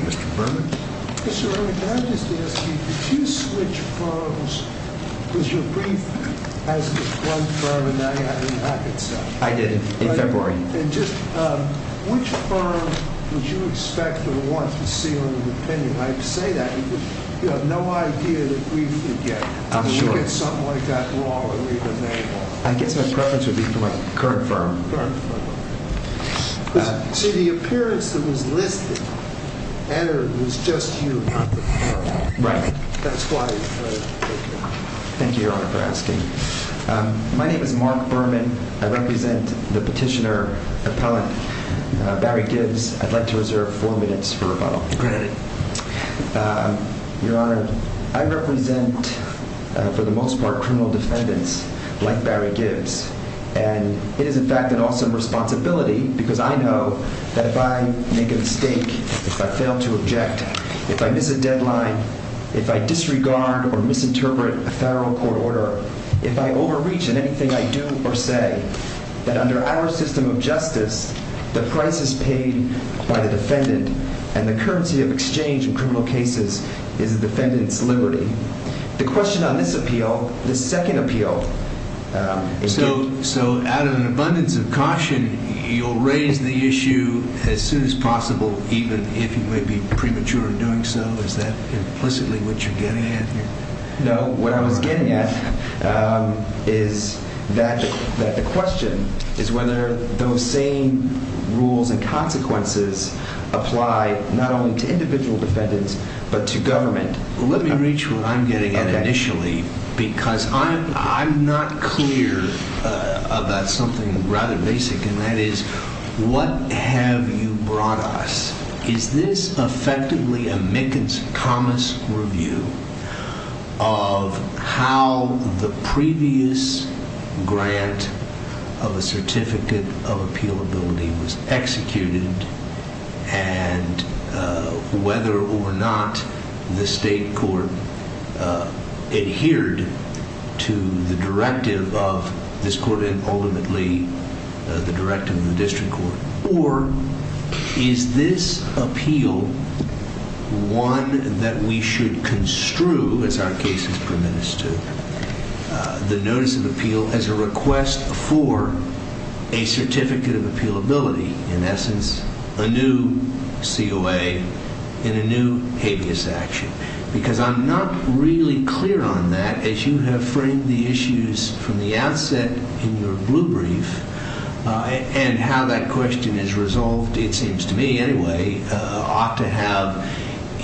Mr. Berman, can I just ask you, did you switch firms, because your brief has the front firm and now you have the back itself. I did, in February. And just, which firm would you expect or want to see on the opinion? I say that because you have no idea that we could get. I'm sure. We could get something like that raw or even made raw. I guess my preference would be for my current firm. Current firm. So the appearance that was listed was just you, not the firm. Right. That's why. Thank you, Your Honor, for asking. My name is Mark Berman. I represent the petitioner appellant, Barry Gibbs. I'd like to reserve four minutes for rebuttal. Great. Your Honor, I represent, for the most part, criminal defendants like Barry Gibbs. And it is, in fact, an awesome responsibility, because I know that if I make a mistake, if I fail to object, if I miss a deadline, if I disregard or misinterpret a federal court order, if I overreach in anything I do or say, that under our system of justice, the price is paid by the defendant and the currency of exchange in criminal cases is the defendant's liberty. The question on this appeal, this second appeal. So out of an abundance of caution, you'll raise the issue as soon as possible, even if you may be premature in doing so? Is that implicitly what you're getting at here? No. What I was getting at is that the question is whether those same rules and consequences apply not only to individual defendants but to government. Let me reach what I'm getting at initially, because I'm not clear about something rather basic, and that is, what have you brought us? Is this effectively a Mickens-Thomas review of how the previous grant of a certificate of appealability was executed and whether or not the state court adhered to the directive of this court and ultimately the directive of the district court? Or is this appeal one that we should construe, as our case is permitted to, the notice of appeal as a request for a certificate of appealability? In essence, a new COA and a new habeas action, because I'm not really clear on that, as you have framed the issues from the outset in your blue brief, and how that question is resolved, it seems to me anyway, ought to have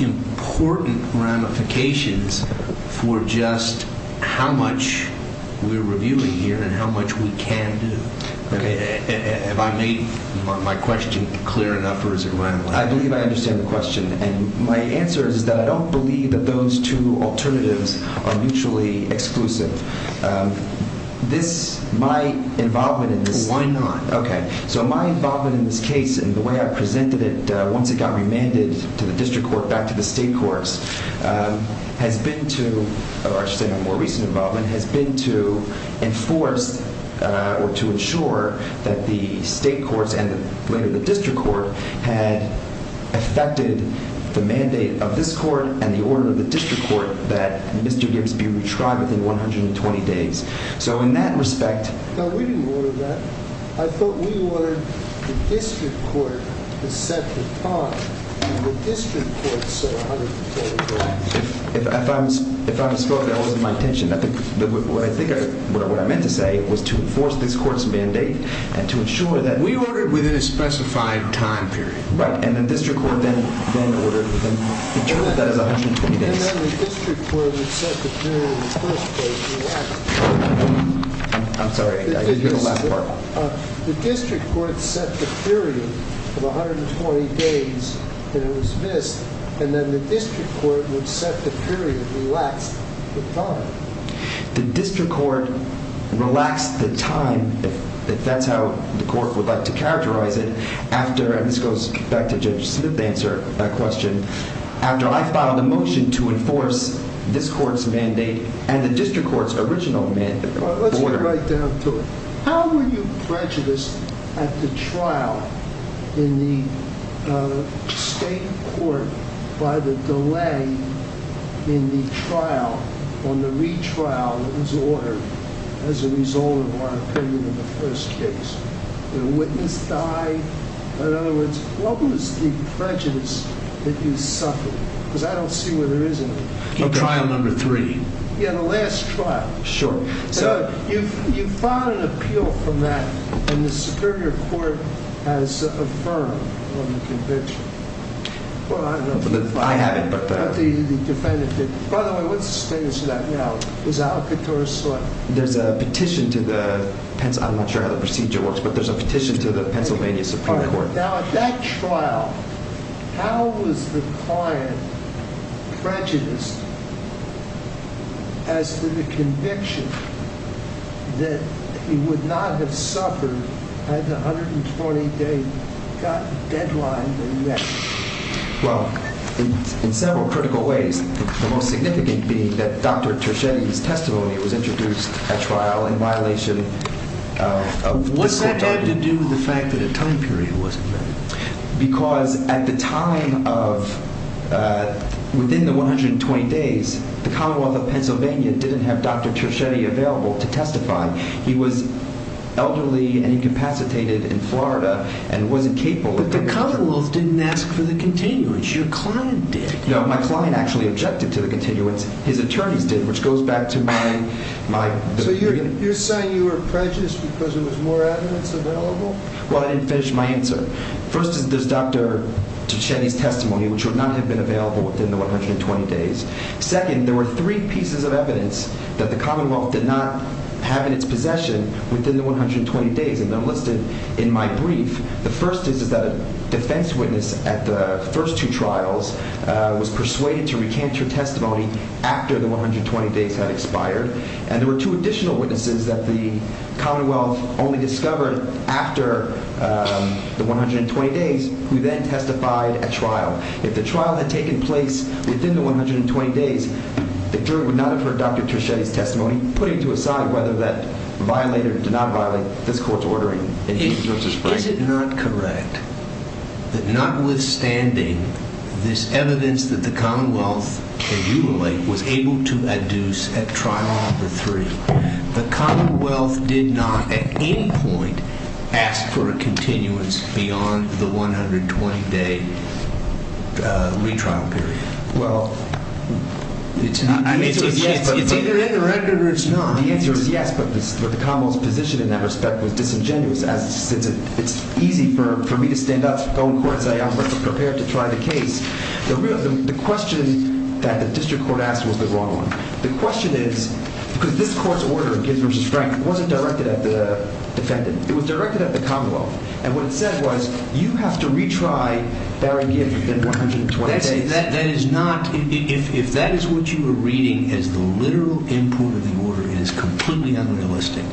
important ramifications for just how much we're reviewing here and how much we can do. Have I made my question clear enough, or is it rambling? I believe I understand the question, and my answer is that I don't believe that those two alternatives are mutually exclusive. My involvement in this case, and the way I presented it once it got remanded to the district court back to the state courts, has been to enforce, or to ensure, that the state courts and later the district court had effected the mandate of this court and the order of the district court that Mr. Gibbs be retried within 120 days. No, we didn't order that. I thought we ordered the district court to set the time, and the district court set 120 days. If I'm spoken, that wasn't my intention. What I meant to say was to enforce this court's mandate and to ensure that We ordered within a specified time period. Right, and the district court then ordered to interpret that as 120 days. And then the district court would set the period in the first place and relax the time. I'm sorry, I didn't hear the last part. The district court set the period of 120 days, and it was missed, and then the district court would set the period and relax the time. The district court relaxed the time, if that's how the court would like to characterize it, and this goes back to Judge Smith's answer to that question, after I filed a motion to enforce this court's mandate and the district court's original mandate. Let's get right down to it. How were you prejudiced at the trial in the state court by the delay in the trial on the retrial that was ordered as a result of our opinion in the first case? Did a witness die? In other words, what was the prejudice that you suffered? Because I don't see where there isn't one. Trial number three. Yeah, the last trial. Sure. So, you filed an appeal from that, and the Superior Court has affirmed on the convention. Well, I haven't, but the defendant did. By the way, what's the status of that now? Is it out of court or what? There's a petition to the—I'm not sure how the procedure works, but there's a petition to the Pennsylvania Supreme Court. Now, at that trial, how was the client prejudiced as to the conviction that he would not have suffered had the 120-day deadline been met? Well, in several critical ways, the most significant being that Dr. Turchetti's testimony was introduced at trial in violation of— What had to do with the fact that a time period wasn't met? Because at the time of—within the 120 days, the Commonwealth of Pennsylvania didn't have Dr. Turchetti available to testify. He was elderly and incapacitated in Florida and wasn't capable of— The Commonwealth didn't ask for the continuance. Your client did. No, my client actually objected to the continuance. His attorneys did, which goes back to my— So, you're saying you were prejudiced because there was more evidence available? Well, I didn't finish my answer. First is, does Dr. Turchetti's testimony, which would not have been available within the 120 days— Second, there were three pieces of evidence that the Commonwealth did not have in its possession within the 120 days, and they're listed in my brief. The first is that a defense witness at the first two trials was persuaded to recant her testimony after the 120 days had expired, and there were two additional witnesses that the Commonwealth only discovered after the 120 days who then testified at trial. If the trial had taken place within the 120 days, the jury would not have heard Dr. Turchetti's testimony, putting to a side whether that violated or did not violate this court's ordering. Is it not correct that notwithstanding this evidence that the Commonwealth, as you relate, was able to adduce at trial number three, the Commonwealth did not at any point ask for a continuance beyond the 120-day retrial period? Well, the answer is yes, but— It's either in the record or it's not. The answer is yes, but the Commonwealth's position in that respect was disingenuous, as it's easy for me to stand up, go in court and say I'm prepared to try the case. The question that the district court asked was the wrong one. The question is—because this court's order, Gibbs v. Frank, wasn't directed at the defendant. It was directed at the Commonwealth, and what it said was, you have to retry Barry Gibbs within 120 days. That is not—if that is what you are reading as the literal import of the order, it is completely unrealistic.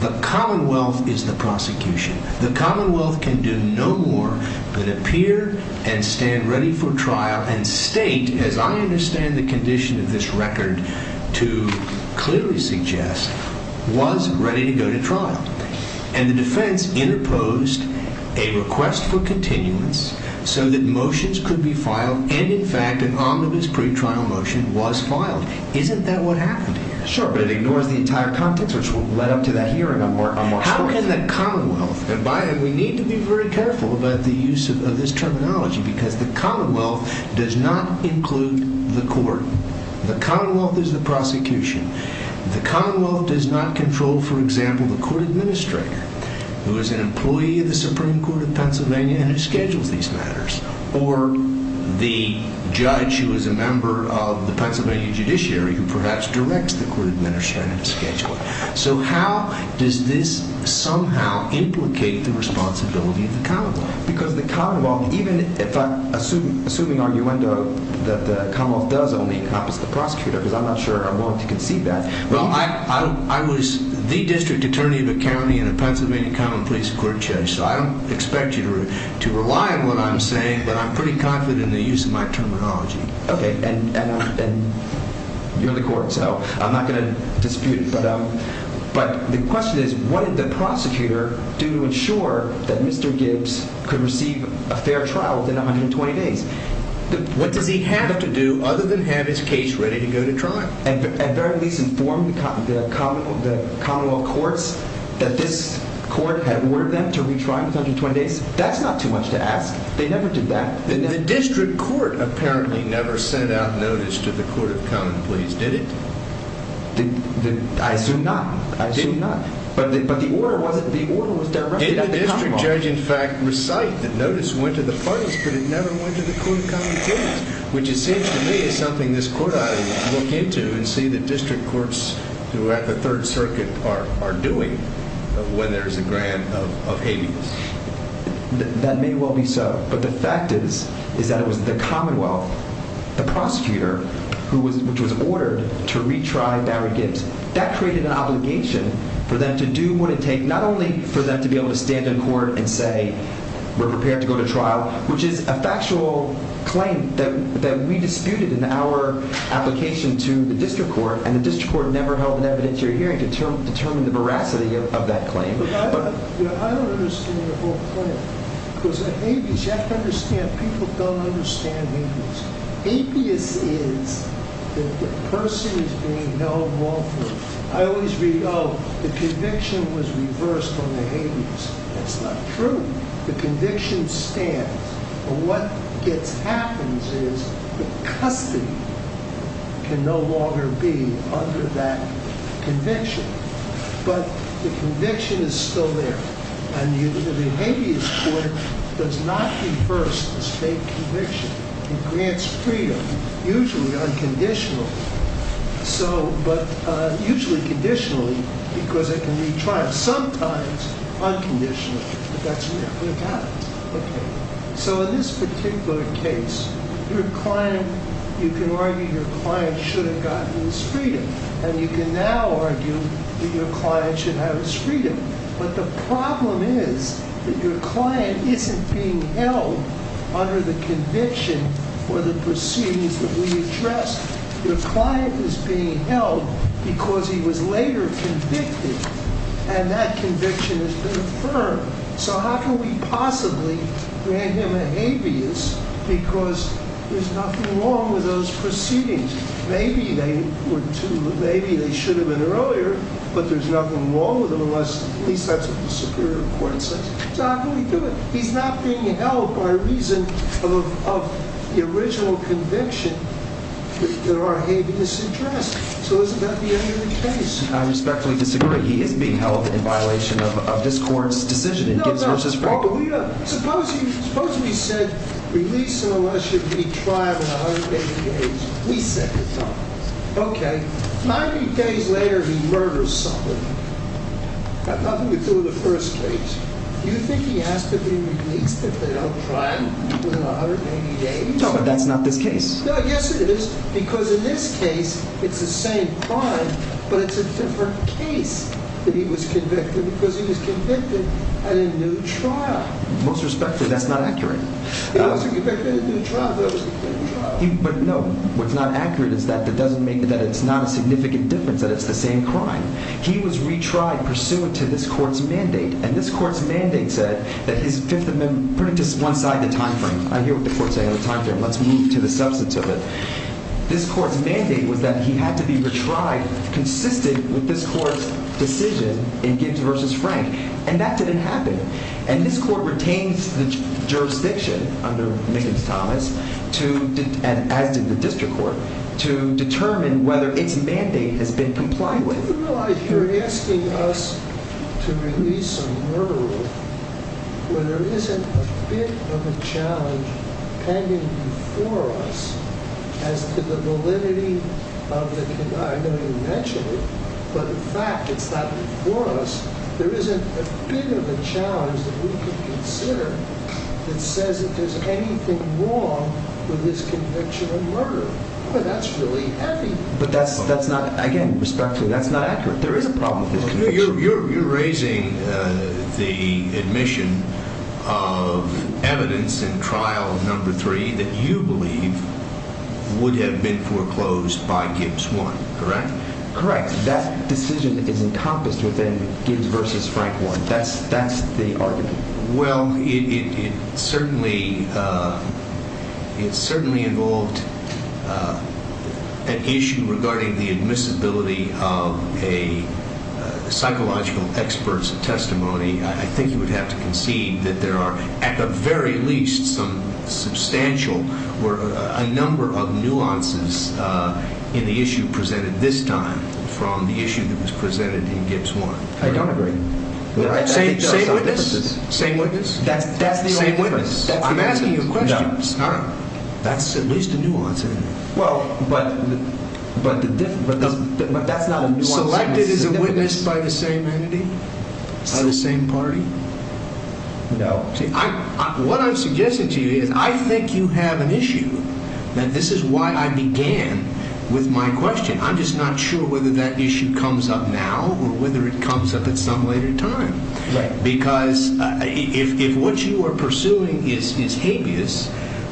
The Commonwealth is the prosecution. The Commonwealth can do no more than appear and stand ready for trial and state, as I understand the condition of this record to clearly suggest, was ready to go to trial. And the defense interposed a request for continuance so that motions could be filed, and in fact an omnibus pretrial motion was filed. Isn't that what happened here? Sure, but it ignores the entire context, which led up to that hearing. How can the Commonwealth—and we need to be very careful about the use of this terminology, because the Commonwealth does not include the court. The Commonwealth is the prosecution. The Commonwealth does not control, for example, the court administrator, who is an employee of the Supreme Court of Pennsylvania and who schedules these matters, or the judge who is a member of the Pennsylvania judiciary who perhaps directs the court administrator to schedule it. So how does this somehow implicate the responsibility of the Commonwealth? Because the Commonwealth, even if I—assuming arguendo that the Commonwealth does only encompass the prosecutor, because I'm not sure I want to concede that— Well, I was the district attorney of a county and a Pennsylvania common police court judge, so I don't expect you to rely on what I'm saying, but I'm pretty confident in the use of my terminology. Okay, and you're the court, so I'm not going to dispute it. But the question is, what did the prosecutor do to ensure that Mr. Gibbs could receive a fair trial within 120 days? What does he have to do other than have his case ready to go to trial? At very least inform the Commonwealth courts that this court had ordered them to retry within 120 days? That's not too much to ask. They never did that. The district court apparently never sent out notice to the court of common police, did it? I assume not. I assume not. But the order was directed at the Commonwealth. The district judge, in fact, recited the notice, went to the parties, but it never went to the court of common police, which it seems to me is something this court ought to look into and see the district courts throughout the Third Circuit are doing when there's a grant of habeas. That may well be so, but the fact is, is that it was the Commonwealth, the prosecutor, who was—which was ordered to retry Barry Gibbs. That created an obligation for them to do what it takes not only for them to be able to stand in court and say we're prepared to go to trial, which is a factual claim that we disputed in our application to the district court, and the district court never held an evidentiary hearing to determine the veracity of that claim. I don't understand your whole claim, because in habeas, you have to understand, people don't understand habeas. Habeas is that the person is being held lawful. I always read, oh, the conviction was reversed on the habeas. That's not true. The conviction stands. What gets—happens is the custody can no longer be under that conviction, but the conviction is still there. And the habeas court does not reverse the state conviction. It grants freedom, usually unconditionally. So, but usually conditionally, because it can retry it. Sometimes unconditionally, but that's never happened. Okay, so in this particular case, your client—you can argue your client should have gotten his freedom, and you can now argue that your client should have his freedom. But the problem is that your client isn't being held under the conviction or the proceedings that we addressed. Your client is being held because he was later convicted, and that conviction has been affirmed. So how can we possibly grant him a habeas because there's nothing wrong with those proceedings? Maybe they were too—maybe they should have been earlier, but there's nothing wrong with them, unless at least that's what the superior court says. So how can we do it? He's not being held by reason of the original conviction that there are habeas addressed. So isn't that the end of the case? I respectfully disagree. He is being held in violation of this court's decision in Gibbs v. Franklin. Suppose we said, release him unless he'll be trialed in 180 days. We set the time. Okay, 90 days later, he murders someone. Got nothing to do with the first case. Do you think he has to be released if they don't trial him within 180 days? No, but that's not this case. Yes, it is, because in this case, it's the same crime, but it's a different case that he was convicted, because he was convicted at a new trial. Most respectfully, that's not accurate. He was convicted at a new trial, but it was a different trial. But no, what's not accurate is that it doesn't make—that it's not a significant difference that it's the same crime. He was retried pursuant to this court's mandate, and this court's mandate said that his Fifth Amendment— put it to one side of the time frame. I hear what the court's saying on the time frame. Let's move to the substance of it. This court's mandate was that he had to be retried consistent with this court's decision in Gibbs v. Frank, and that didn't happen. And this court retains the jurisdiction under Mickens-Thomas to—as did the district court— to determine whether its mandate has been compliant with. You realize you're asking us to release a murderer when there isn't a bit of a challenge pending before us as to the validity of the— I know you mentioned it, but in fact, it's not before us. There isn't a bit of a challenge that we can consider that says that there's anything wrong with his conviction of murder. Boy, that's really heavy. But that's not—again, respectfully, that's not accurate. There is a problem with his conviction. You're raising the admission of evidence in Trial No. 3 that you believe would have been foreclosed by Gibbs 1, correct? Correct. That decision is encompassed within Gibbs v. Frank 1. That's the argument. Well, it certainly involved an issue regarding the admissibility of a psychological expert's testimony. I think you would have to concede that there are, at the very least, some substantial or a number of nuances in the issue presented this time from the issue that was presented in Gibbs 1. I don't agree. Same witness? That's the only difference. I'm asking you a question. That's at least a nuance in it. Well, but that's not a nuance in it. Selected as a witness by the same entity? By the same party? No. What I'm suggesting to you is I think you have an issue, and this is why I began with my question. I'm just not sure whether that issue comes up now or whether it comes up at some later time. Because if what you are pursuing is habeas,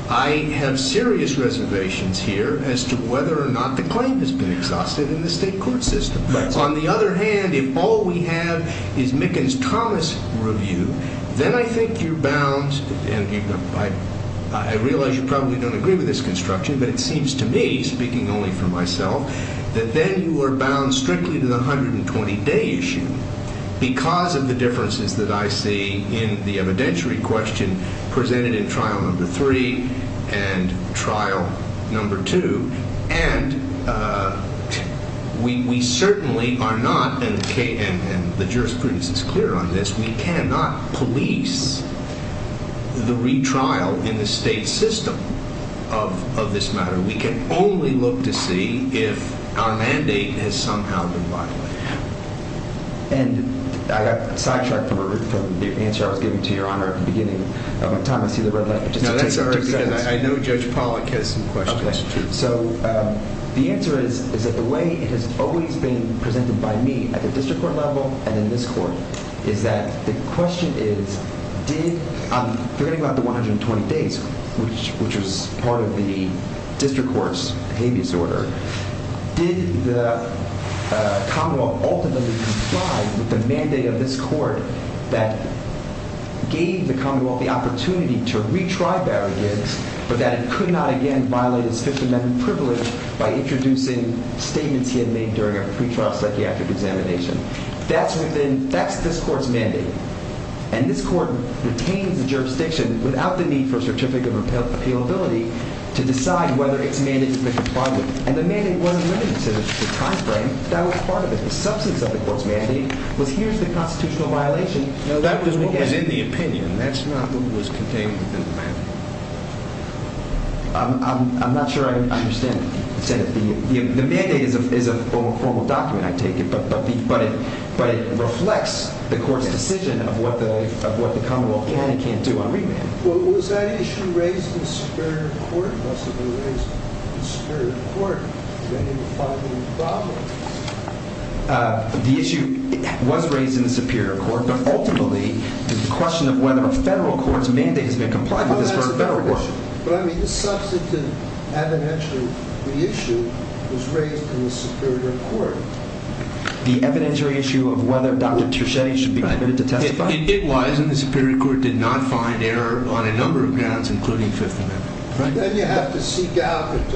I have serious reservations here as to whether or not the claim has been exhausted in the state court system. On the other hand, if all we have is Mickens-Thomas review, then I think you're bound – and I realize you probably don't agree with this construction, but it seems to me, speaking only for myself, that then you are bound strictly to the 120-day issue because of the differences that I see in the evidentiary question presented in trial number three and trial number two. And we certainly are not – and the jurisprudence is clear on this – we cannot police the retrial in the state system of this matter. We can only look to see if our mandate has somehow been violated. And I got sidetracked from the answer I was giving to Your Honor at the beginning of my time. I see the red light. No, that's all right, because I know Judge Pollack has some questions, too. So the answer is that the way it has always been presented by me at the district court level and in this court is that the question is did – I'm forgetting about the 120 days, which was part of the district court's habeas order. Did the commonwealth ultimately comply with the mandate of this court that gave the commonwealth the opportunity to retry Barry Giggs but that it could not again violate his Fifth Amendment privilege by introducing statements he had made during a pretrial psychiatric examination? That's within – that's this court's mandate. And this court retains the jurisdiction without the need for a certificate of appealability to decide whether its mandate has been complied with. And the mandate wasn't limited to the time frame. That was part of it. The substance of the court's mandate was here's the constitutional violation. That was what was in the opinion. That's not what was contained within the mandate. I'm not sure I understand. The mandate is a formal document, I take it, but it reflects the court's decision of what the commonwealth can and can't do on remand. Well, was that issue raised in the superior court? It must have been raised in the superior court. The issue was raised in the superior court, but ultimately, the question of whether a federal court's mandate has been complied with is for a federal court. But I mean, the substantive evidentiary issue was raised in the superior court. The evidentiary issue of whether Dr. Treschetti should be permitted to testify? It was, and the superior court did not find error on a number of grounds, including Fifth Amendment. Then you have to seek out and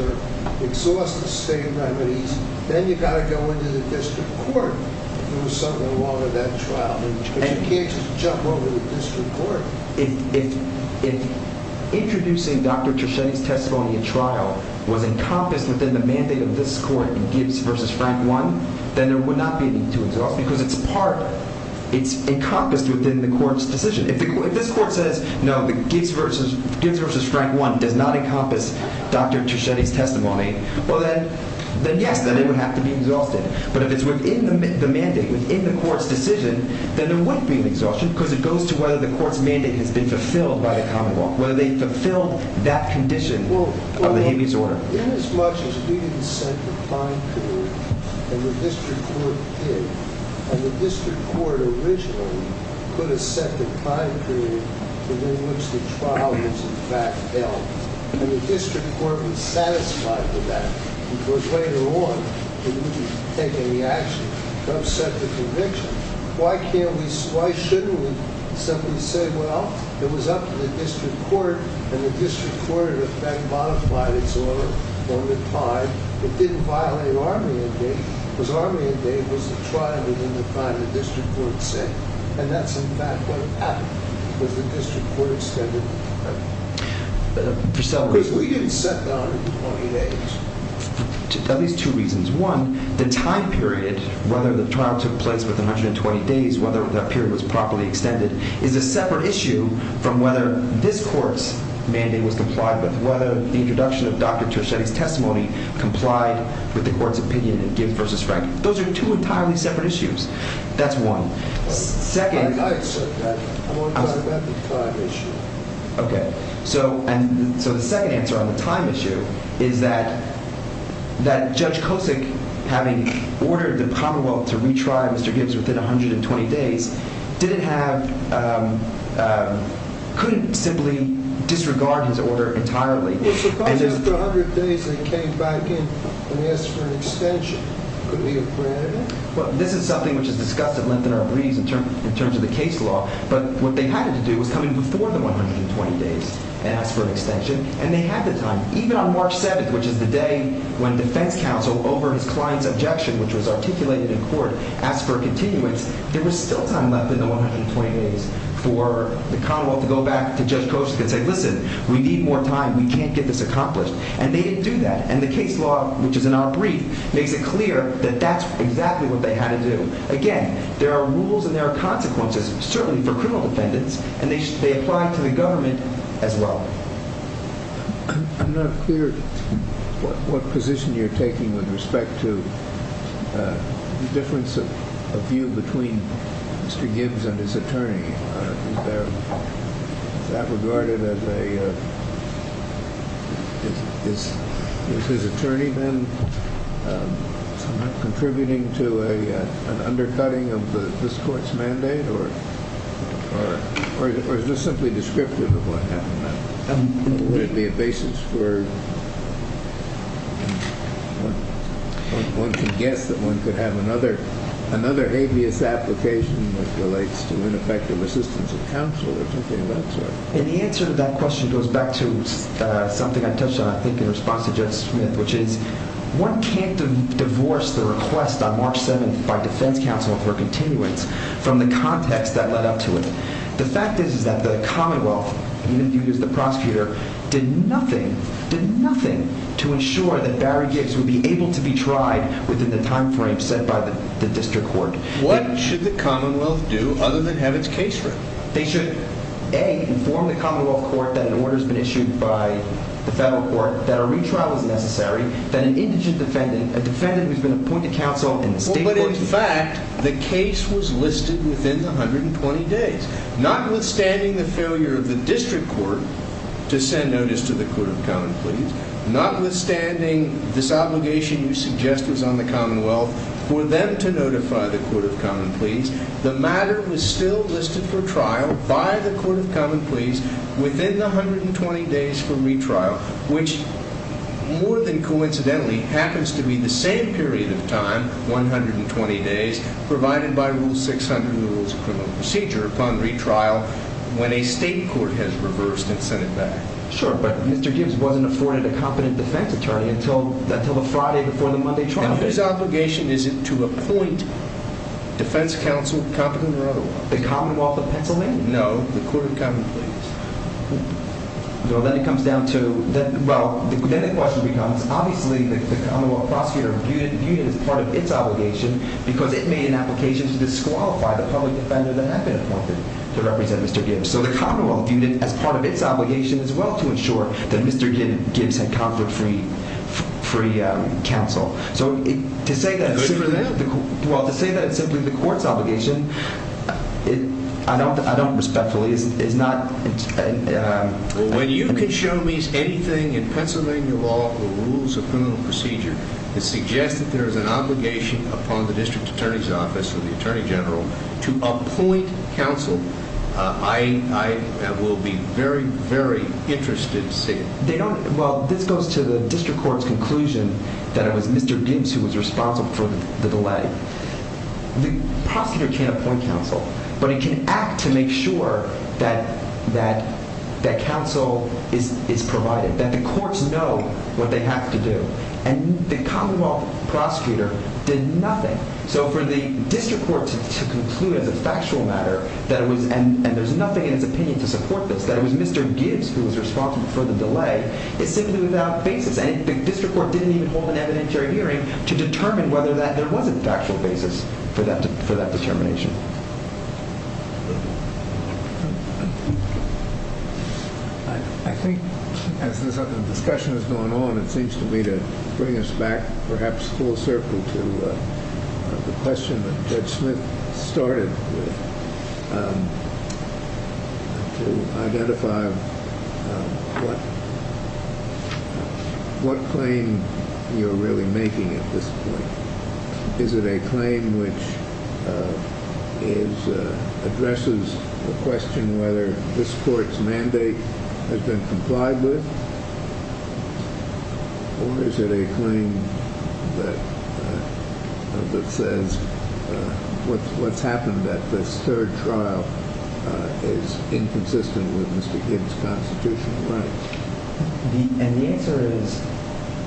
exhaust the state remedies. Then you've got to go into the district court and do something along with that trial. But you can't just jump over the district court. If introducing Dr. Treschetti's testimony at trial was encompassed within the mandate of this court in Gibbs v. Frank 1, then there would not be a need to exhaust, because it's part, it's encompassed within the court's decision. If this court says, no, Gibbs v. Frank 1 does not encompass Dr. Treschetti's testimony, well, then yes, then it would have to be exhausted. But if it's within the mandate, within the court's decision, then there wouldn't be an exhaustion because it goes to whether the court's mandate has been fulfilled by the common law, whether they fulfilled that condition of the habeas order. But inasmuch as we didn't set the prime period, and the district court did, and the district court originally put a second prime period within which the trial was in fact held, and the district court was satisfied with that, because later on, it wouldn't take any action to upset the conviction, why can't we, why shouldn't we simply say, well, it was up to the district court, and the district court, in effect, modified its order over time. It didn't violate our mandate, because our mandate was the trial within the time the district court set. And that's, in fact, what happened, was the district court extended. For several reasons. Because we didn't set that on any date. At least two reasons. One, the time period, whether the trial took place within 120 days, whether that period was properly extended, is a separate issue from whether this court's mandate was complied with, whether the introduction of Dr. Treschetti's testimony complied with the court's opinion of Gibb versus Frank. Those are two entirely separate issues. That's one. I accept that. I want to talk about the time issue. Okay. So the second answer on the time issue is that Judge Kosick, having ordered the Commonwealth to retry Mr. Gibbs within 120 days, didn't have, couldn't simply disregard his order entirely. Well, suppose after 100 days they came back in and asked for an extension. Could we have granted it? Well, this is something which is discussed at length in our briefs in terms of the case law. But what they had to do was come in before the 120 days and ask for an extension, and they had the time. Even on March 7th, which is the day when defense counsel, over his client's objection, which was articulated in court, asked for a continuance, there was still time left in the 120 days for the Commonwealth to go back to Judge Kosick and say, listen, we need more time. We can't get this accomplished. And they didn't do that. And the case law, which is in our brief, makes it clear that that's exactly what they had to do. Again, there are rules and there are consequences, certainly for criminal defendants, and they apply to the government as well. I'm not clear what position you're taking with respect to the difference of view between Mr. Gibbs and his attorney. Is that regarded as a – is his attorney then contributing to an undercutting of this court's mandate, or is this simply descriptive of what happened? Would it be a basis for – one can guess that one could have another habeas application that relates to ineffective assistance of counsel or something of that sort. And the answer to that question goes back to something I touched on, I think, in response to Judge Smith, which is one can't divorce the request on March 7th by defense counsel for a continuance from the context that led up to it. The fact is that the Commonwealth, even viewed as the prosecutor, did nothing – did nothing to ensure that Barry Gibbs would be able to be tried within the timeframe set by the district court. What should the Commonwealth do other than have its case read? They should, A, inform the Commonwealth Court that an order has been issued by the federal court that a retrial is necessary, that an indigent defendant, a defendant who's been appointed counsel in the state court… But, in fact, the case was listed within the 120 days. Notwithstanding the failure of the district court to send notice to the court of common pleas, notwithstanding this obligation you suggest was on the Commonwealth for them to notify the court of common pleas, the matter was still listed for trial by the court of common pleas within the 120 days for retrial, which, more than coincidentally, happens to be the same period of time – 120 days – provided by Rule 600 of the Rules of Criminal Procedure upon retrial when a state court has reversed and sent it back. Sure, but Mr. Gibbs wasn't afforded a competent defense attorney until the Friday before the Monday trial. Now, whose obligation is it to appoint defense counsel, competent or otherwise? The Commonwealth of Pennsylvania. No, the court of common pleas. Well, then it comes down to – well, then the question becomes, obviously, the Commonwealth prosecutor viewed it as part of its obligation because it made an application to disqualify the public defender that had been appointed to represent Mr. Gibbs. So the Commonwealth viewed it as part of its obligation as well to ensure that Mr. Gibbs had conferred free counsel. So to say that – Good for them. Well, to say that it's simply the court's obligation, I don't – I don't respectfully – it's not – Well, when you can show me anything in Pennsylvania law or the Rules of Criminal Procedure that suggests that there is an obligation upon the district attorney's office or the attorney general to appoint counsel, I will be very, very interested to see it. They don't – well, this goes to the district court's conclusion that it was Mr. Gibbs who was responsible for the delay. The prosecutor can't appoint counsel, but he can act to make sure that that counsel is provided, that the courts know what they have to do. And the Commonwealth prosecutor did nothing. So for the district court to conclude as a factual matter that it was – and there's nothing in its opinion to support this – that it was Mr. Gibbs who was responsible for the delay is simply without basis. And the district court didn't even hold an evidentiary hearing to determine whether there was a factual basis for that determination. I think as the discussion has gone on, it seems to me to bring us back perhaps full circle to the question that Judge Smith started with, to identify what claim you're really making at this point. Is it a claim which addresses the question whether this court's mandate has been complied with, or is it a claim that says what's happened at this third trial is inconsistent with Mr. Gibbs' constitutional rights? And the answer is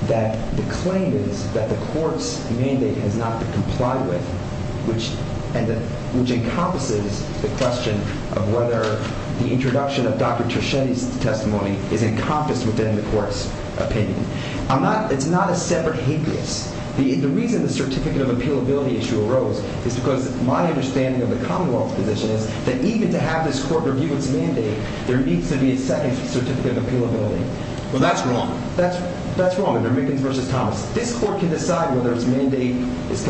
that the claim is that the court's mandate has not been complied with, which encompasses the question of whether the introduction of Dr. Treschetti's testimony is encompassed within the court's opinion. I'm not – it's not a separate hate case. The reason the certificate of appealability issue arose is because my understanding of the Commonwealth's position is that even to have this court review its mandate, there needs to be a second certificate of appealability. Well, that's wrong. That's wrong in Ehrmickens v. Thomas. This court can decide whether its mandate was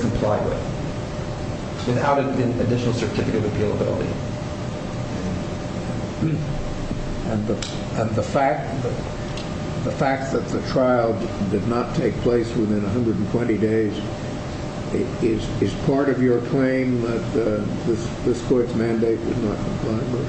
complied with without an additional certificate of appealability. And the fact that the trial did not take place within 120 days, is part of your claim that this court's mandate was not complied with?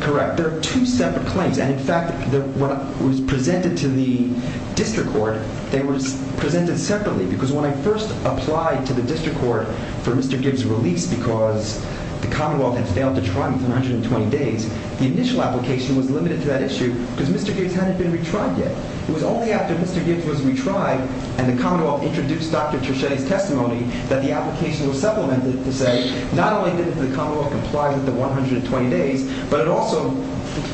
Correct. There are two separate claims. And in fact, what was presented to the district court, they were presented separately. Because when I first applied to the district court for Mr. Gibbs' release because the Commonwealth had failed to try him for 120 days, the initial application was limited to that issue because Mr. Gibbs hadn't been retried yet. It was only after Mr. Gibbs was retried and the Commonwealth introduced Dr. Treschetti's testimony that the application was supplemented to say not only did the Commonwealth comply with the 120 days, but it also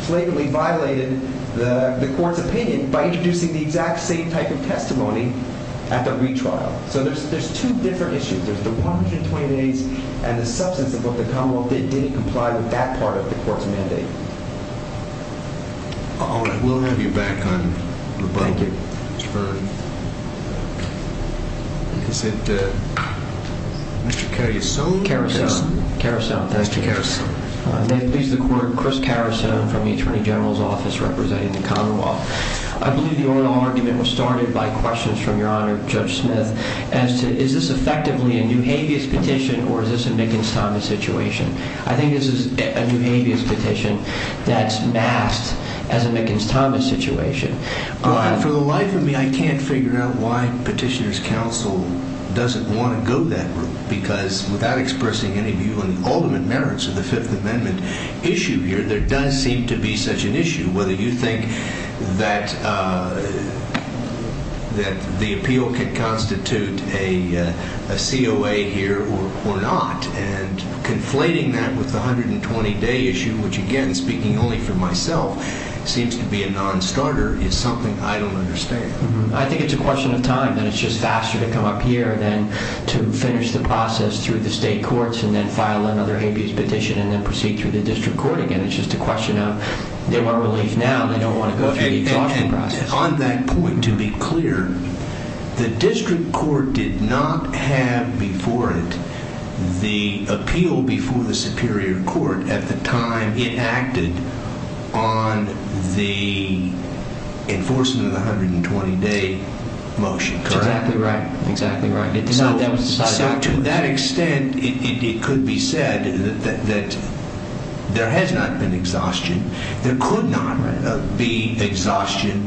flagrantly violated the court's opinion by introducing the exact same type of testimony at the retrial. So there's two different issues. There's the 120 days and the substance of what the Commonwealth did didn't comply with that part of the court's mandate. All right. We'll have you back on the button. Thank you. Is it Mr. Carusone? Carusone. Thank you. May it please the court, Chris Carusone from the Attorney General's Office representing the Commonwealth. I believe the oral argument was started by questions from Your Honor, Judge Smith, as to is this effectively a new habeas petition or is this a Niggins-Thomas situation? I think this is a new habeas petition that's masked as a Niggins-Thomas situation. For the life of me, I can't figure out why Petitioner's Counsel doesn't want to go that route because without expressing any view on the ultimate merits of the Fifth Amendment issue here, there does seem to be such an issue. Whether you think that the appeal could constitute a COA here or not, and conflating that with the 120-day issue, which again, speaking only for myself, seems to be a non-starter, is something I don't understand. I think it's a question of time and it's just faster to come up here than to finish the process through the state courts and then file another habeas petition and then proceed through the district court again. It's just a question of they want relief now, they don't want to go through the exhaustion process. On that point, to be clear, the district court did not have before it the appeal before the Superior Court at the time it acted on the enforcement of the 120-day motion, correct? Exactly right. To that extent, it could be said that there has not been exhaustion, there could not be exhaustion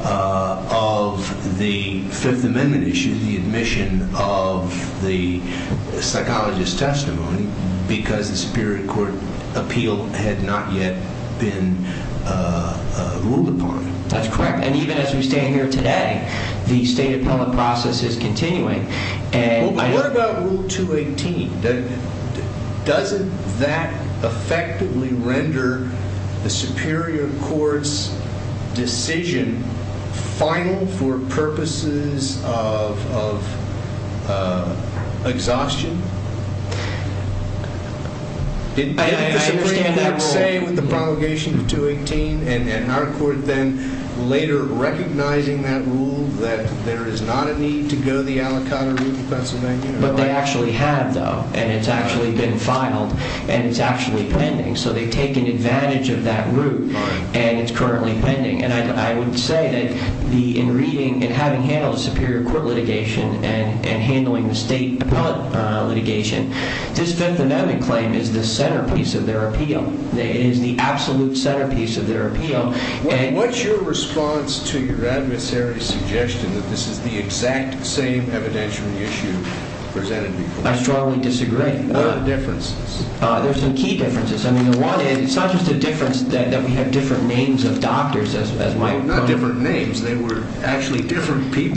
of the Fifth Amendment issue, the admission of the psychologist's testimony, because the Superior Court appeal had not yet been ruled upon. That's correct. And even as we stand here today, the state appellate process is continuing. What about Rule 218? Doesn't that effectively render the Superior Court's decision final for purposes of exhaustion? I understand that rule. Are we okay with the promulgation of 218 and our court then later recognizing that rule, that there is not a need to go the Alicante route in Pennsylvania? But they actually have, though, and it's actually been filed and it's actually pending. So they've taken advantage of that route and it's currently pending. And I would say that in reading and having handled the Superior Court litigation and handling the state appellate litigation, this Fifth Amendment claim is the centerpiece of their appeal. It is the absolute centerpiece of their appeal. What's your response to your adversary's suggestion that this is the exact same evidentiary issue presented before us? I strongly disagree. What are the differences? There's some key differences. I mean, it's not just a difference that we have different names of doctors, as Mike pointed out. Well, not different names. They were actually different people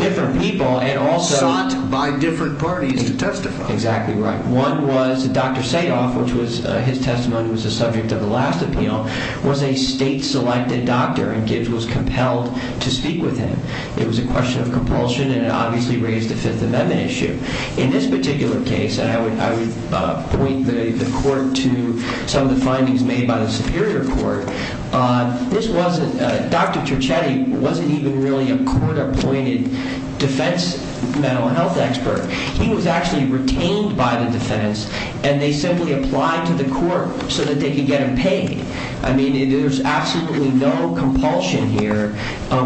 sought by different parties to testify. Exactly right. One was Dr. Sayoff, which his testimony was the subject of the last appeal, was a state-selected doctor and Gibbs was compelled to speak with him. It was a question of compulsion and it obviously raised the Fifth Amendment issue. In this particular case, and I would point the court to some of the findings made by the Superior Court, Dr. Turchetti wasn't even really a court-appointed defense mental health expert. He was actually retained by the defense and they simply applied to the court so that they could get him paid. I mean, there's absolutely no compulsion here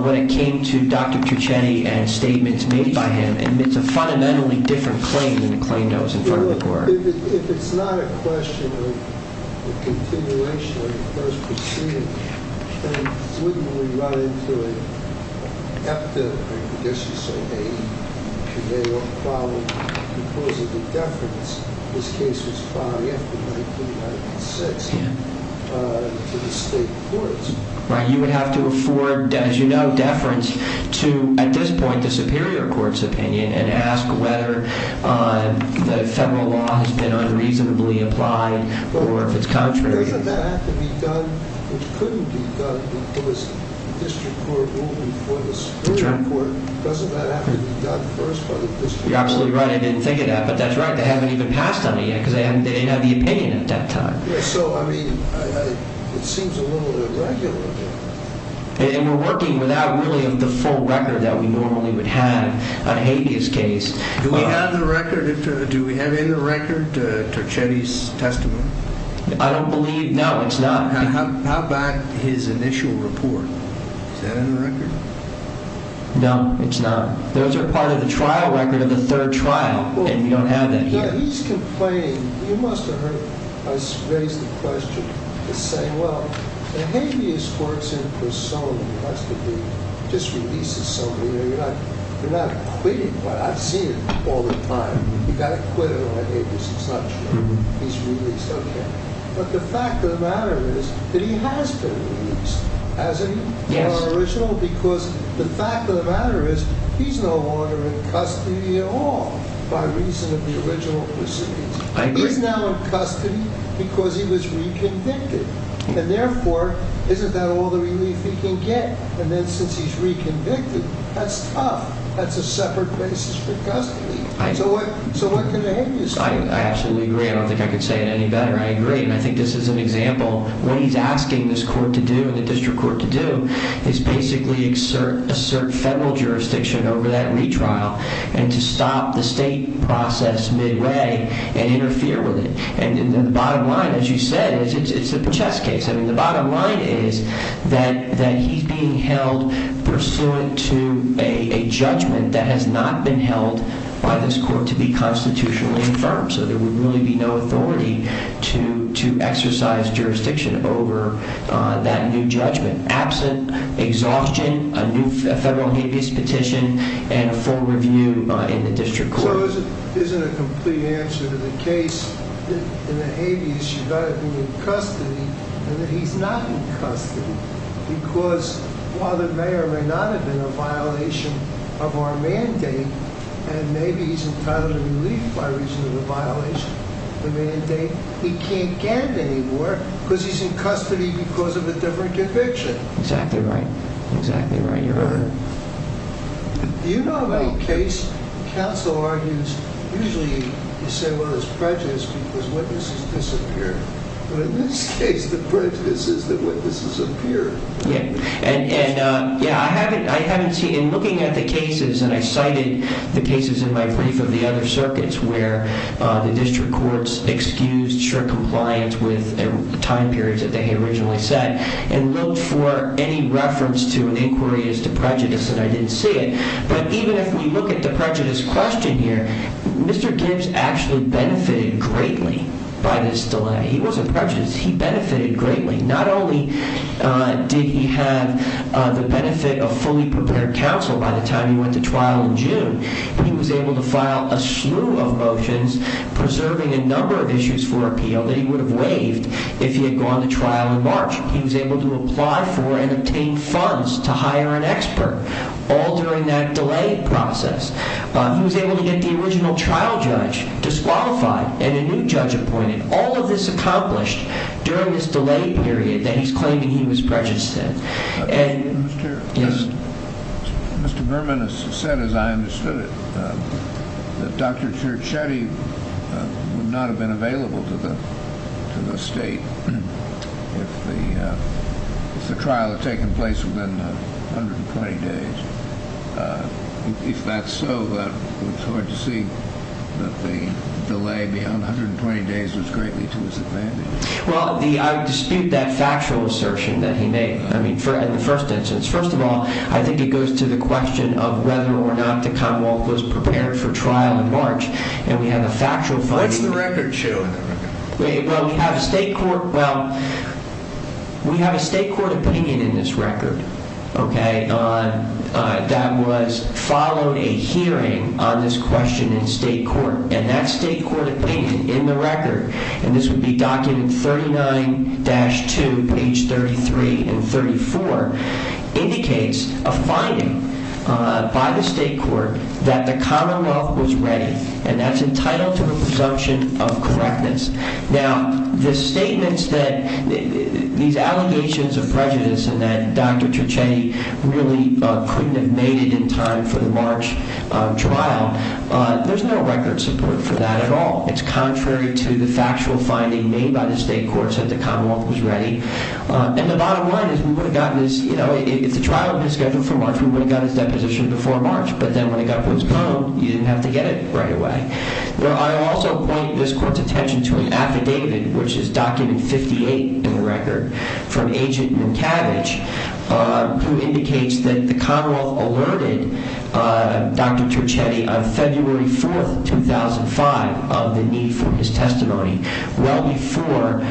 when it came to Dr. Turchetti and statements made by him. It's a fundamentally different claim than the claim that was in front of the court. If it's not a question of a continuation of the first proceeding, then wouldn't we run into an epidemic, I guess you'd say, behavioral problem because of the deference this case was filing after 1996 to the state courts? Right, you would have to afford, as you know, deference to, at this point, the Superior Court's opinion and ask whether the federal law has been unreasonably applied or if it's contrary. Doesn't that have to be done, which couldn't be done, if it was a district court ruling for the Superior Court? Doesn't that have to be done first by the district court? You're absolutely right. I didn't think of that, but that's right. They haven't even passed on it yet because they didn't have the opinion at that time. So, I mean, it seems a little irregular. And we're working without really the full record that we normally would have on a habeas case. Do we have in the record Turchetti's testimony? I don't believe, no, it's not. How about his initial report? Is that in the record? No, it's not. Those are part of the trial record of the third trial, and we don't have that here. Now, he's complaining. You must have heard us raise the question. He's saying, well, a habeas court's in persona. It has to be. It just releases somebody. You're not acquitting, but I've seen it all the time. You've got to quit it on a habeas. It's not sure. He's released. Okay. But the fact of the matter is that he has been released. Yes. I agree. I absolutely agree. I don't think I could say it any better. I agree, and I think this is an example. What he's asking this court to do and the district court to do is basically assert federal jurisdiction over that retrial and to stop the state process midway and interfere with it. And the bottom line, as you said, is it's a Pechette's case. I mean, the bottom line is that he's being held pursuant to a judgment that has not been held by this court to be constitutionally affirmed. So there would really be no authority to exercise jurisdiction over that new judgment. Absent exhaustion, a new federal habeas petition and a full review in the district court. So it isn't a complete answer to the case in the habeas. You've got to be in custody and that he's not in custody because while the mayor may not have been a violation of our mandate and maybe he's entitled to relief by reason of a violation of the mandate, he can't get it anymore because he's in custody because of a different conviction. Exactly right. Exactly right. You're right. Do you know of any case counsel argues, usually you say, well, it's prejudice because witnesses disappear. But in this case, the prejudice is that witnesses appear. Yeah. And yeah, I haven't. I haven't seen in looking at the cases and I cited the cases in my brief of the other circuits where the district courts excused sure compliance with time periods that they had originally set and looked for any reference to an inquiry as to prejudice and I didn't see it. But even if we look at the prejudice question here, Mr. Gibbs actually benefited greatly by this delay. He wasn't prejudiced. He benefited greatly. Not only did he have the benefit of fully prepared counsel by the time he went to trial in June, he was able to file a slew of motions preserving a number of issues for appeal that he would have waived if he had gone to trial in March. He was able to apply for and obtain funds to hire an expert all during that delay process. He was able to get the original trial judge disqualified and a new judge appointed. All of this accomplished during this delay period that he's claiming he was prejudiced. Mr. Burman has said, as I understood it, that Dr. Chiricetti would not have been available to the state if the trial had taken place within 120 days. If that's so, it's hard to see that the delay beyond 120 days was greatly to his advantage. Well, I dispute that factual assertion that he made in the first instance. First of all, I think it goes to the question of whether or not the Commonwealth was prepared for trial in March. What's the record showing? Well, we have a state court opinion in this record that was followed a hearing on this question in state court. And that state court opinion in the record, and this would be document 39-2, page 33 and 34, indicates a finding by the state court that the Commonwealth was ready. And that's entitled to a presumption of correctness. Now, the statements that these allegations of prejudice and that Dr. Chiricetti really couldn't have made it in time for the March trial, there's no record support for that at all. It's contrary to the factual finding made by the state courts that the Commonwealth was ready. And the bottom line is we would have gotten this, you know, if the trial had been scheduled for March, we would have gotten this deposition before March. But then when it got postponed, you didn't have to get it right away. Well, I also point this court's attention to an affidavit, which is document 58 in the record, from Agent Minkavage, who indicates that the Commonwealth alerted Dr. Chiricetti on February 4, 2005, of the need for his testimony, well before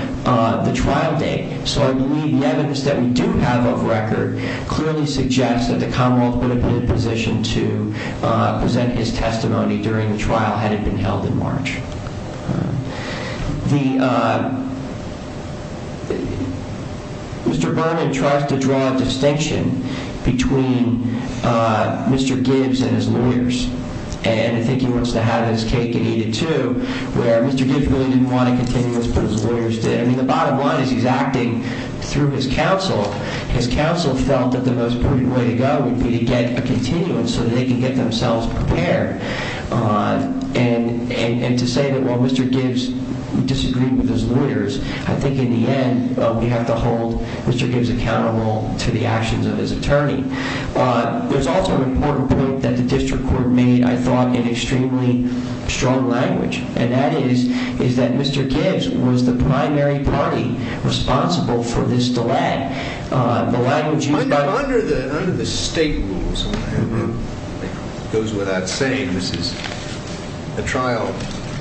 the trial date. So I believe the evidence that we do have of record clearly suggests that the Commonwealth would have been in a position to present his testimony during the trial had it been held in March. Mr. Berman tries to draw a distinction between Mr. Gibbs and his lawyers. And I think he wants to have his cake and eat it too, where Mr. Gibbs really didn't want a continuous, but his lawyers did. I mean, the bottom line is he's acting through his counsel. His counsel felt that the most important way to go would be to get a continuous so that they can get themselves prepared. And to say that while Mr. Gibbs disagreed with his lawyers, I think in the end we have to hold Mr. Gibbs accountable to the actions of his attorney. There's also an important point that the district court made, I thought, in extremely strong language. And that is, is that Mr. Gibbs was the primary party responsible for this delay. Under the state rules, it goes without saying, this is a trial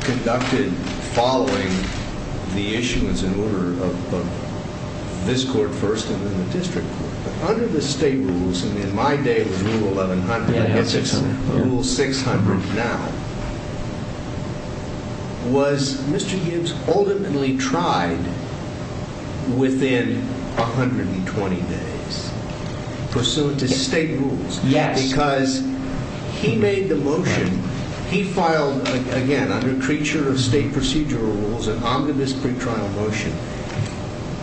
conducted following the issuance in order of this court first and then the district court. But under the state rules, and in my day it was rule 1100, I guess it's rule 600 now. Was Mr. Gibbs ultimately tried within 120 days, pursuant to state rules? Yes. Because he made the motion, he filed, again, under creature of state procedural rules, an omnibus pretrial motion.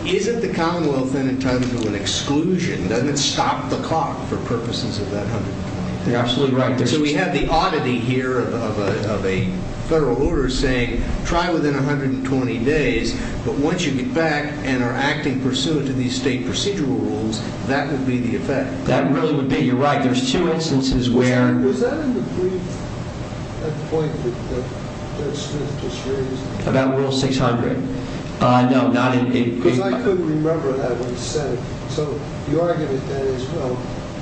Isn't the Commonwealth then entitled to an exclusion? Doesn't it stop the clock for purposes of that 120 days? You're absolutely right. So we have the oddity here of a federal order saying, try within 120 days. But once you get back and are acting pursuant to these state procedural rules, that would be the effect. That really would be. You're right. There's two instances where... Was that in the brief at the point that Smith just raised? About rule 600. No, not in... Because I couldn't remember that when he said it. So your argument then is, well,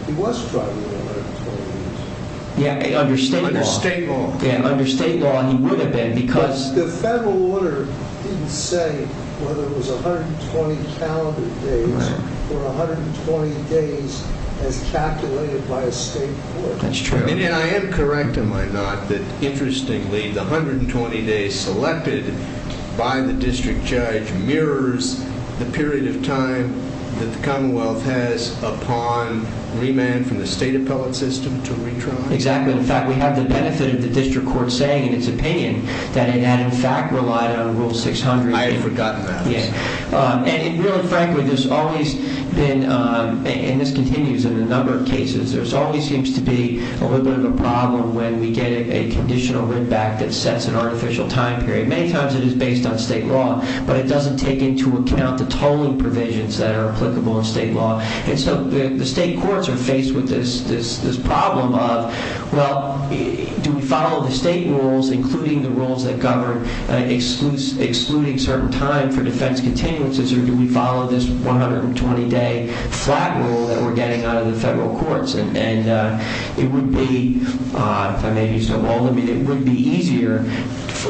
he was tried within 120 days. Yeah, under state law. Under state law. Yeah, under state law he would have been because... But the federal order didn't say whether it was 120 calendar days or 120 days as calculated by a state court. That's true. And I am correct, am I not, that interestingly the 120 days selected by the district judge mirrors the period of time that the Commonwealth has upon remand from the state appellate system to retrial? Exactly. In fact, we have the benefit of the district court saying in its opinion that it had in fact relied on rule 600. I had forgotten that. Yeah. And really frankly, there's always been, and this continues in a number of cases, there always seems to be a little bit of a problem when we get a conditional writ back that sets an artificial time period. Many times it is based on state law, but it doesn't take into account the tolling provisions that are applicable in state law. And so the state courts are faced with this problem of, well, do we follow the state rules, including the rules that govern excluding certain time for defense continuances, or do we follow this 120-day flat rule that we're getting out of the federal courts? And it would be, if I may be so bold, it would be easier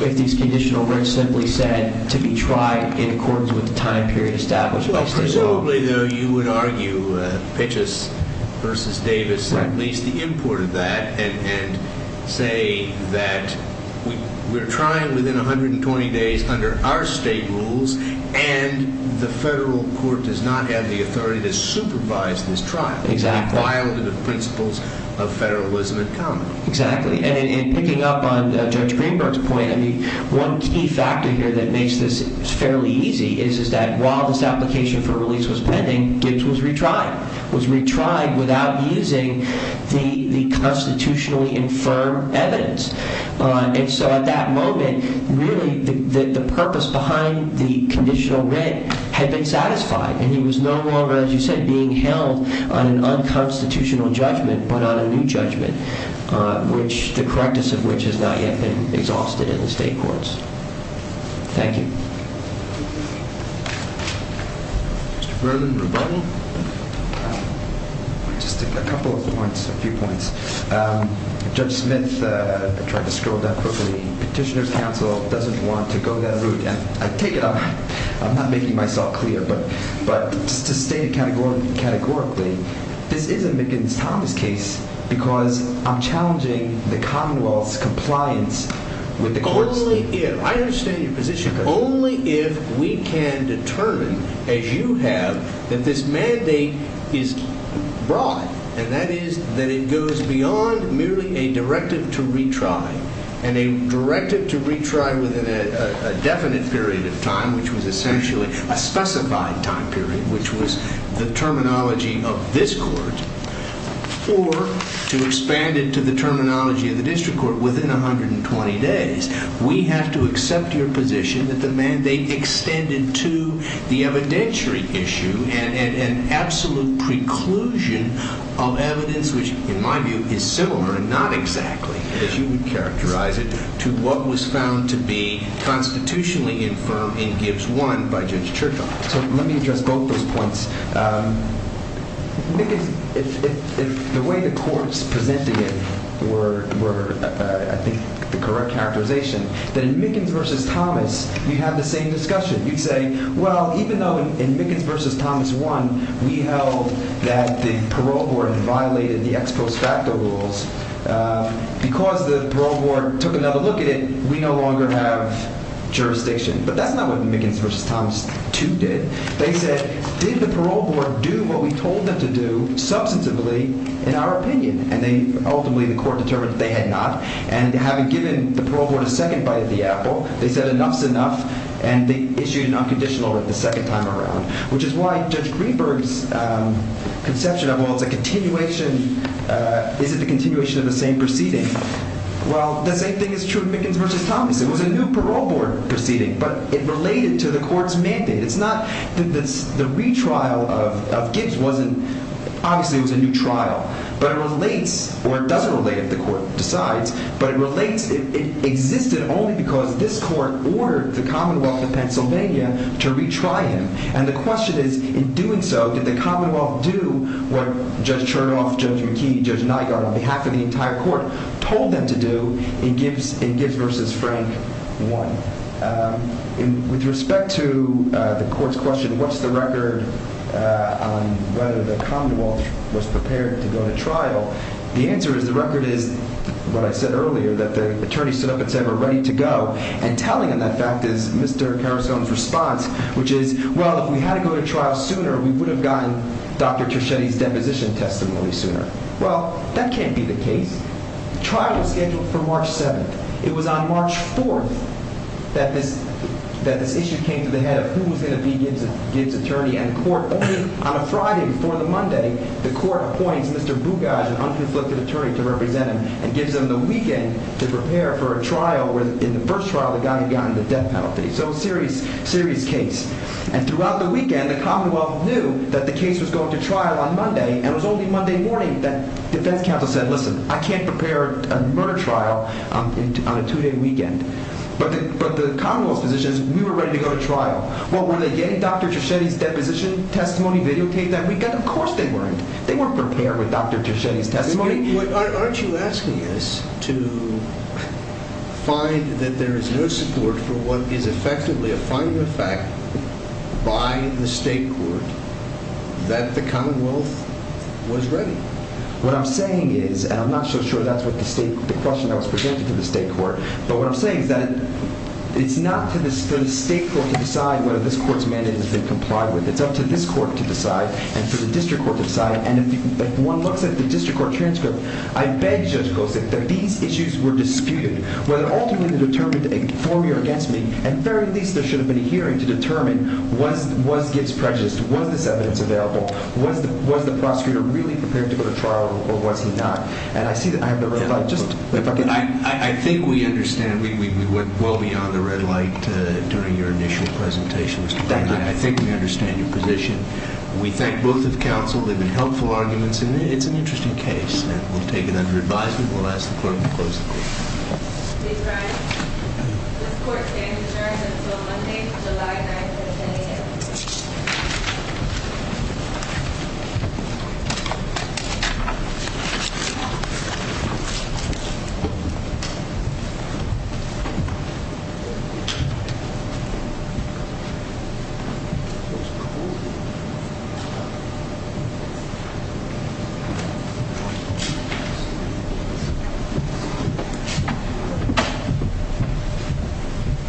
if these conditional writs simply said to be tried in accordance with the time period established by state law. Well, presumably, though, you would argue Pitchess v. Davis at least the import of that and say that we're trying within 120 days under our state rules, and the federal court does not have the authority to supervise this trial. Exactly. It's violated the principles of federalism in common. Exactly. And in picking up on Judge Greenberg's point, I mean, one key factor here that makes this fairly easy is that while this application for release was pending, Gibbs was retried, was retried without using the constitutionally infirm evidence. And so at that moment, really the purpose behind the conditional writ had been satisfied, and he was no longer, as you said, being held on an unconstitutional judgment but on a new judgment, the practice of which has not yet been exhausted in the state courts. Thank you. Mr. Berlin, rebuttal? Just a couple of points, a few points. Judge Smith tried to scroll down quickly. Petitioner's counsel doesn't want to go that route. I take it I'm not making myself clear, but just to state categorically, this is a Mickens-Thomas case because I'm challenging the Commonwealth's compliance with the courts. Only if we can determine, as you have, that this mandate is broad, and that is that it goes beyond merely a directive to retry and a directive to retry within a definite period of time, which was essentially a specified time period, which was the terminology of this court, or to expand it to the terminology of the district court within 120 days, we have to accept your position that the mandate extended to the evidentiary issue and absolute preclusion of evidence, which in my view is similar and not exactly, as you would characterize it, to what was found to be constitutionally infirm in Gibbs 1 by Judge Churchill. So let me address both those points. If the way the courts presented it were, I think, the correct characterization, then in Mickens v. Thomas you'd have the same discussion. You'd say, well, even though in Mickens v. Thomas 1 we held that the parole board violated the ex post facto rules, because the parole board took another look at it, we no longer have jurisdiction. But that's not what Mickens v. Thomas 2 did. They said, did the parole board do what we told them to do substantively in our opinion? And ultimately the court determined that they had not. And having given the parole board a second bite of the apple, they said enough's enough, and they issued an unconditional order the second time around, which is why Judge Greenberg's conception of, well, it's a continuation, is it a continuation of the same proceeding? Well, the same thing is true in Mickens v. Thomas. It was a new parole board proceeding, but it related to the court's mandate. It's not that the retrial of Gibbs wasn't – obviously it was a new trial, but it relates – or it doesn't relate if the court decides, but it relates – it existed only because this court ordered the Commonwealth of Pennsylvania to retry him. And the question is, in doing so, did the Commonwealth do what Judge Chernoff, Judge McKee, Judge Nygaard on behalf of the entire court told them to do in Gibbs v. Frank 1? With respect to the court's question, what's the record on whether the Commonwealth was prepared to go to trial, the answer is the record is, what I said earlier, that the attorney stood up and said we're ready to go, and telling them that fact is Mr. Carusone's response, which is, well, if we had to go to trial sooner, we would have gotten Dr. Treschetti's deposition testimony sooner. Well, that can't be the case. The trial was scheduled for March 7th. It was on March 4th that this issue came to the head of who was going to be Gibbs' attorney, and the court, only on a Friday before the Monday, the court appoints Mr. Bugaj, an unconflicted attorney, to represent him and gives him the weekend to prepare for a trial where in the first trial the guy had gotten the death penalty. So a serious, serious case. And throughout the weekend, the Commonwealth knew that the case was going to trial on Monday, and it was only Monday morning that defense counsel said, listen, I can't prepare a murder trial on a two-day weekend. But the Commonwealth's position is we were ready to go to trial. Well, were they getting Dr. Treschetti's deposition testimony videotaped that weekend? Of course they weren't. They weren't prepared with Dr. Treschetti's testimony. But aren't you asking us to find that there is no support for what is effectively a final effect by the state court that the Commonwealth was ready? What I'm saying is, and I'm not so sure that's what the state, the question that was presented to the state court, but what I'm saying is that it's not for the state court to decide whether this court's mandate has been complied with. It's up to this court to decide and for the district court to decide. And if one looks at the district court transcript, I beg Judge Kosick that these issues were disputed, whether ultimately they're determined for me or against me. And very least there should have been a hearing to determine was Gibbs prejudiced? Was this evidence available? Was the prosecutor really prepared to go to trial or was he not? And I see that I have a reply. I think we understand. We went well beyond the red light during your initial presentation. I think we understand your position. We thank both of counsel. They've been helpful arguments, and it's an interesting case. And we'll take it under advisement. We'll ask the clerk to close the case. Ms. Bryant, this court stands adjourned until Monday, July 9th at 10 a.m. Thank you.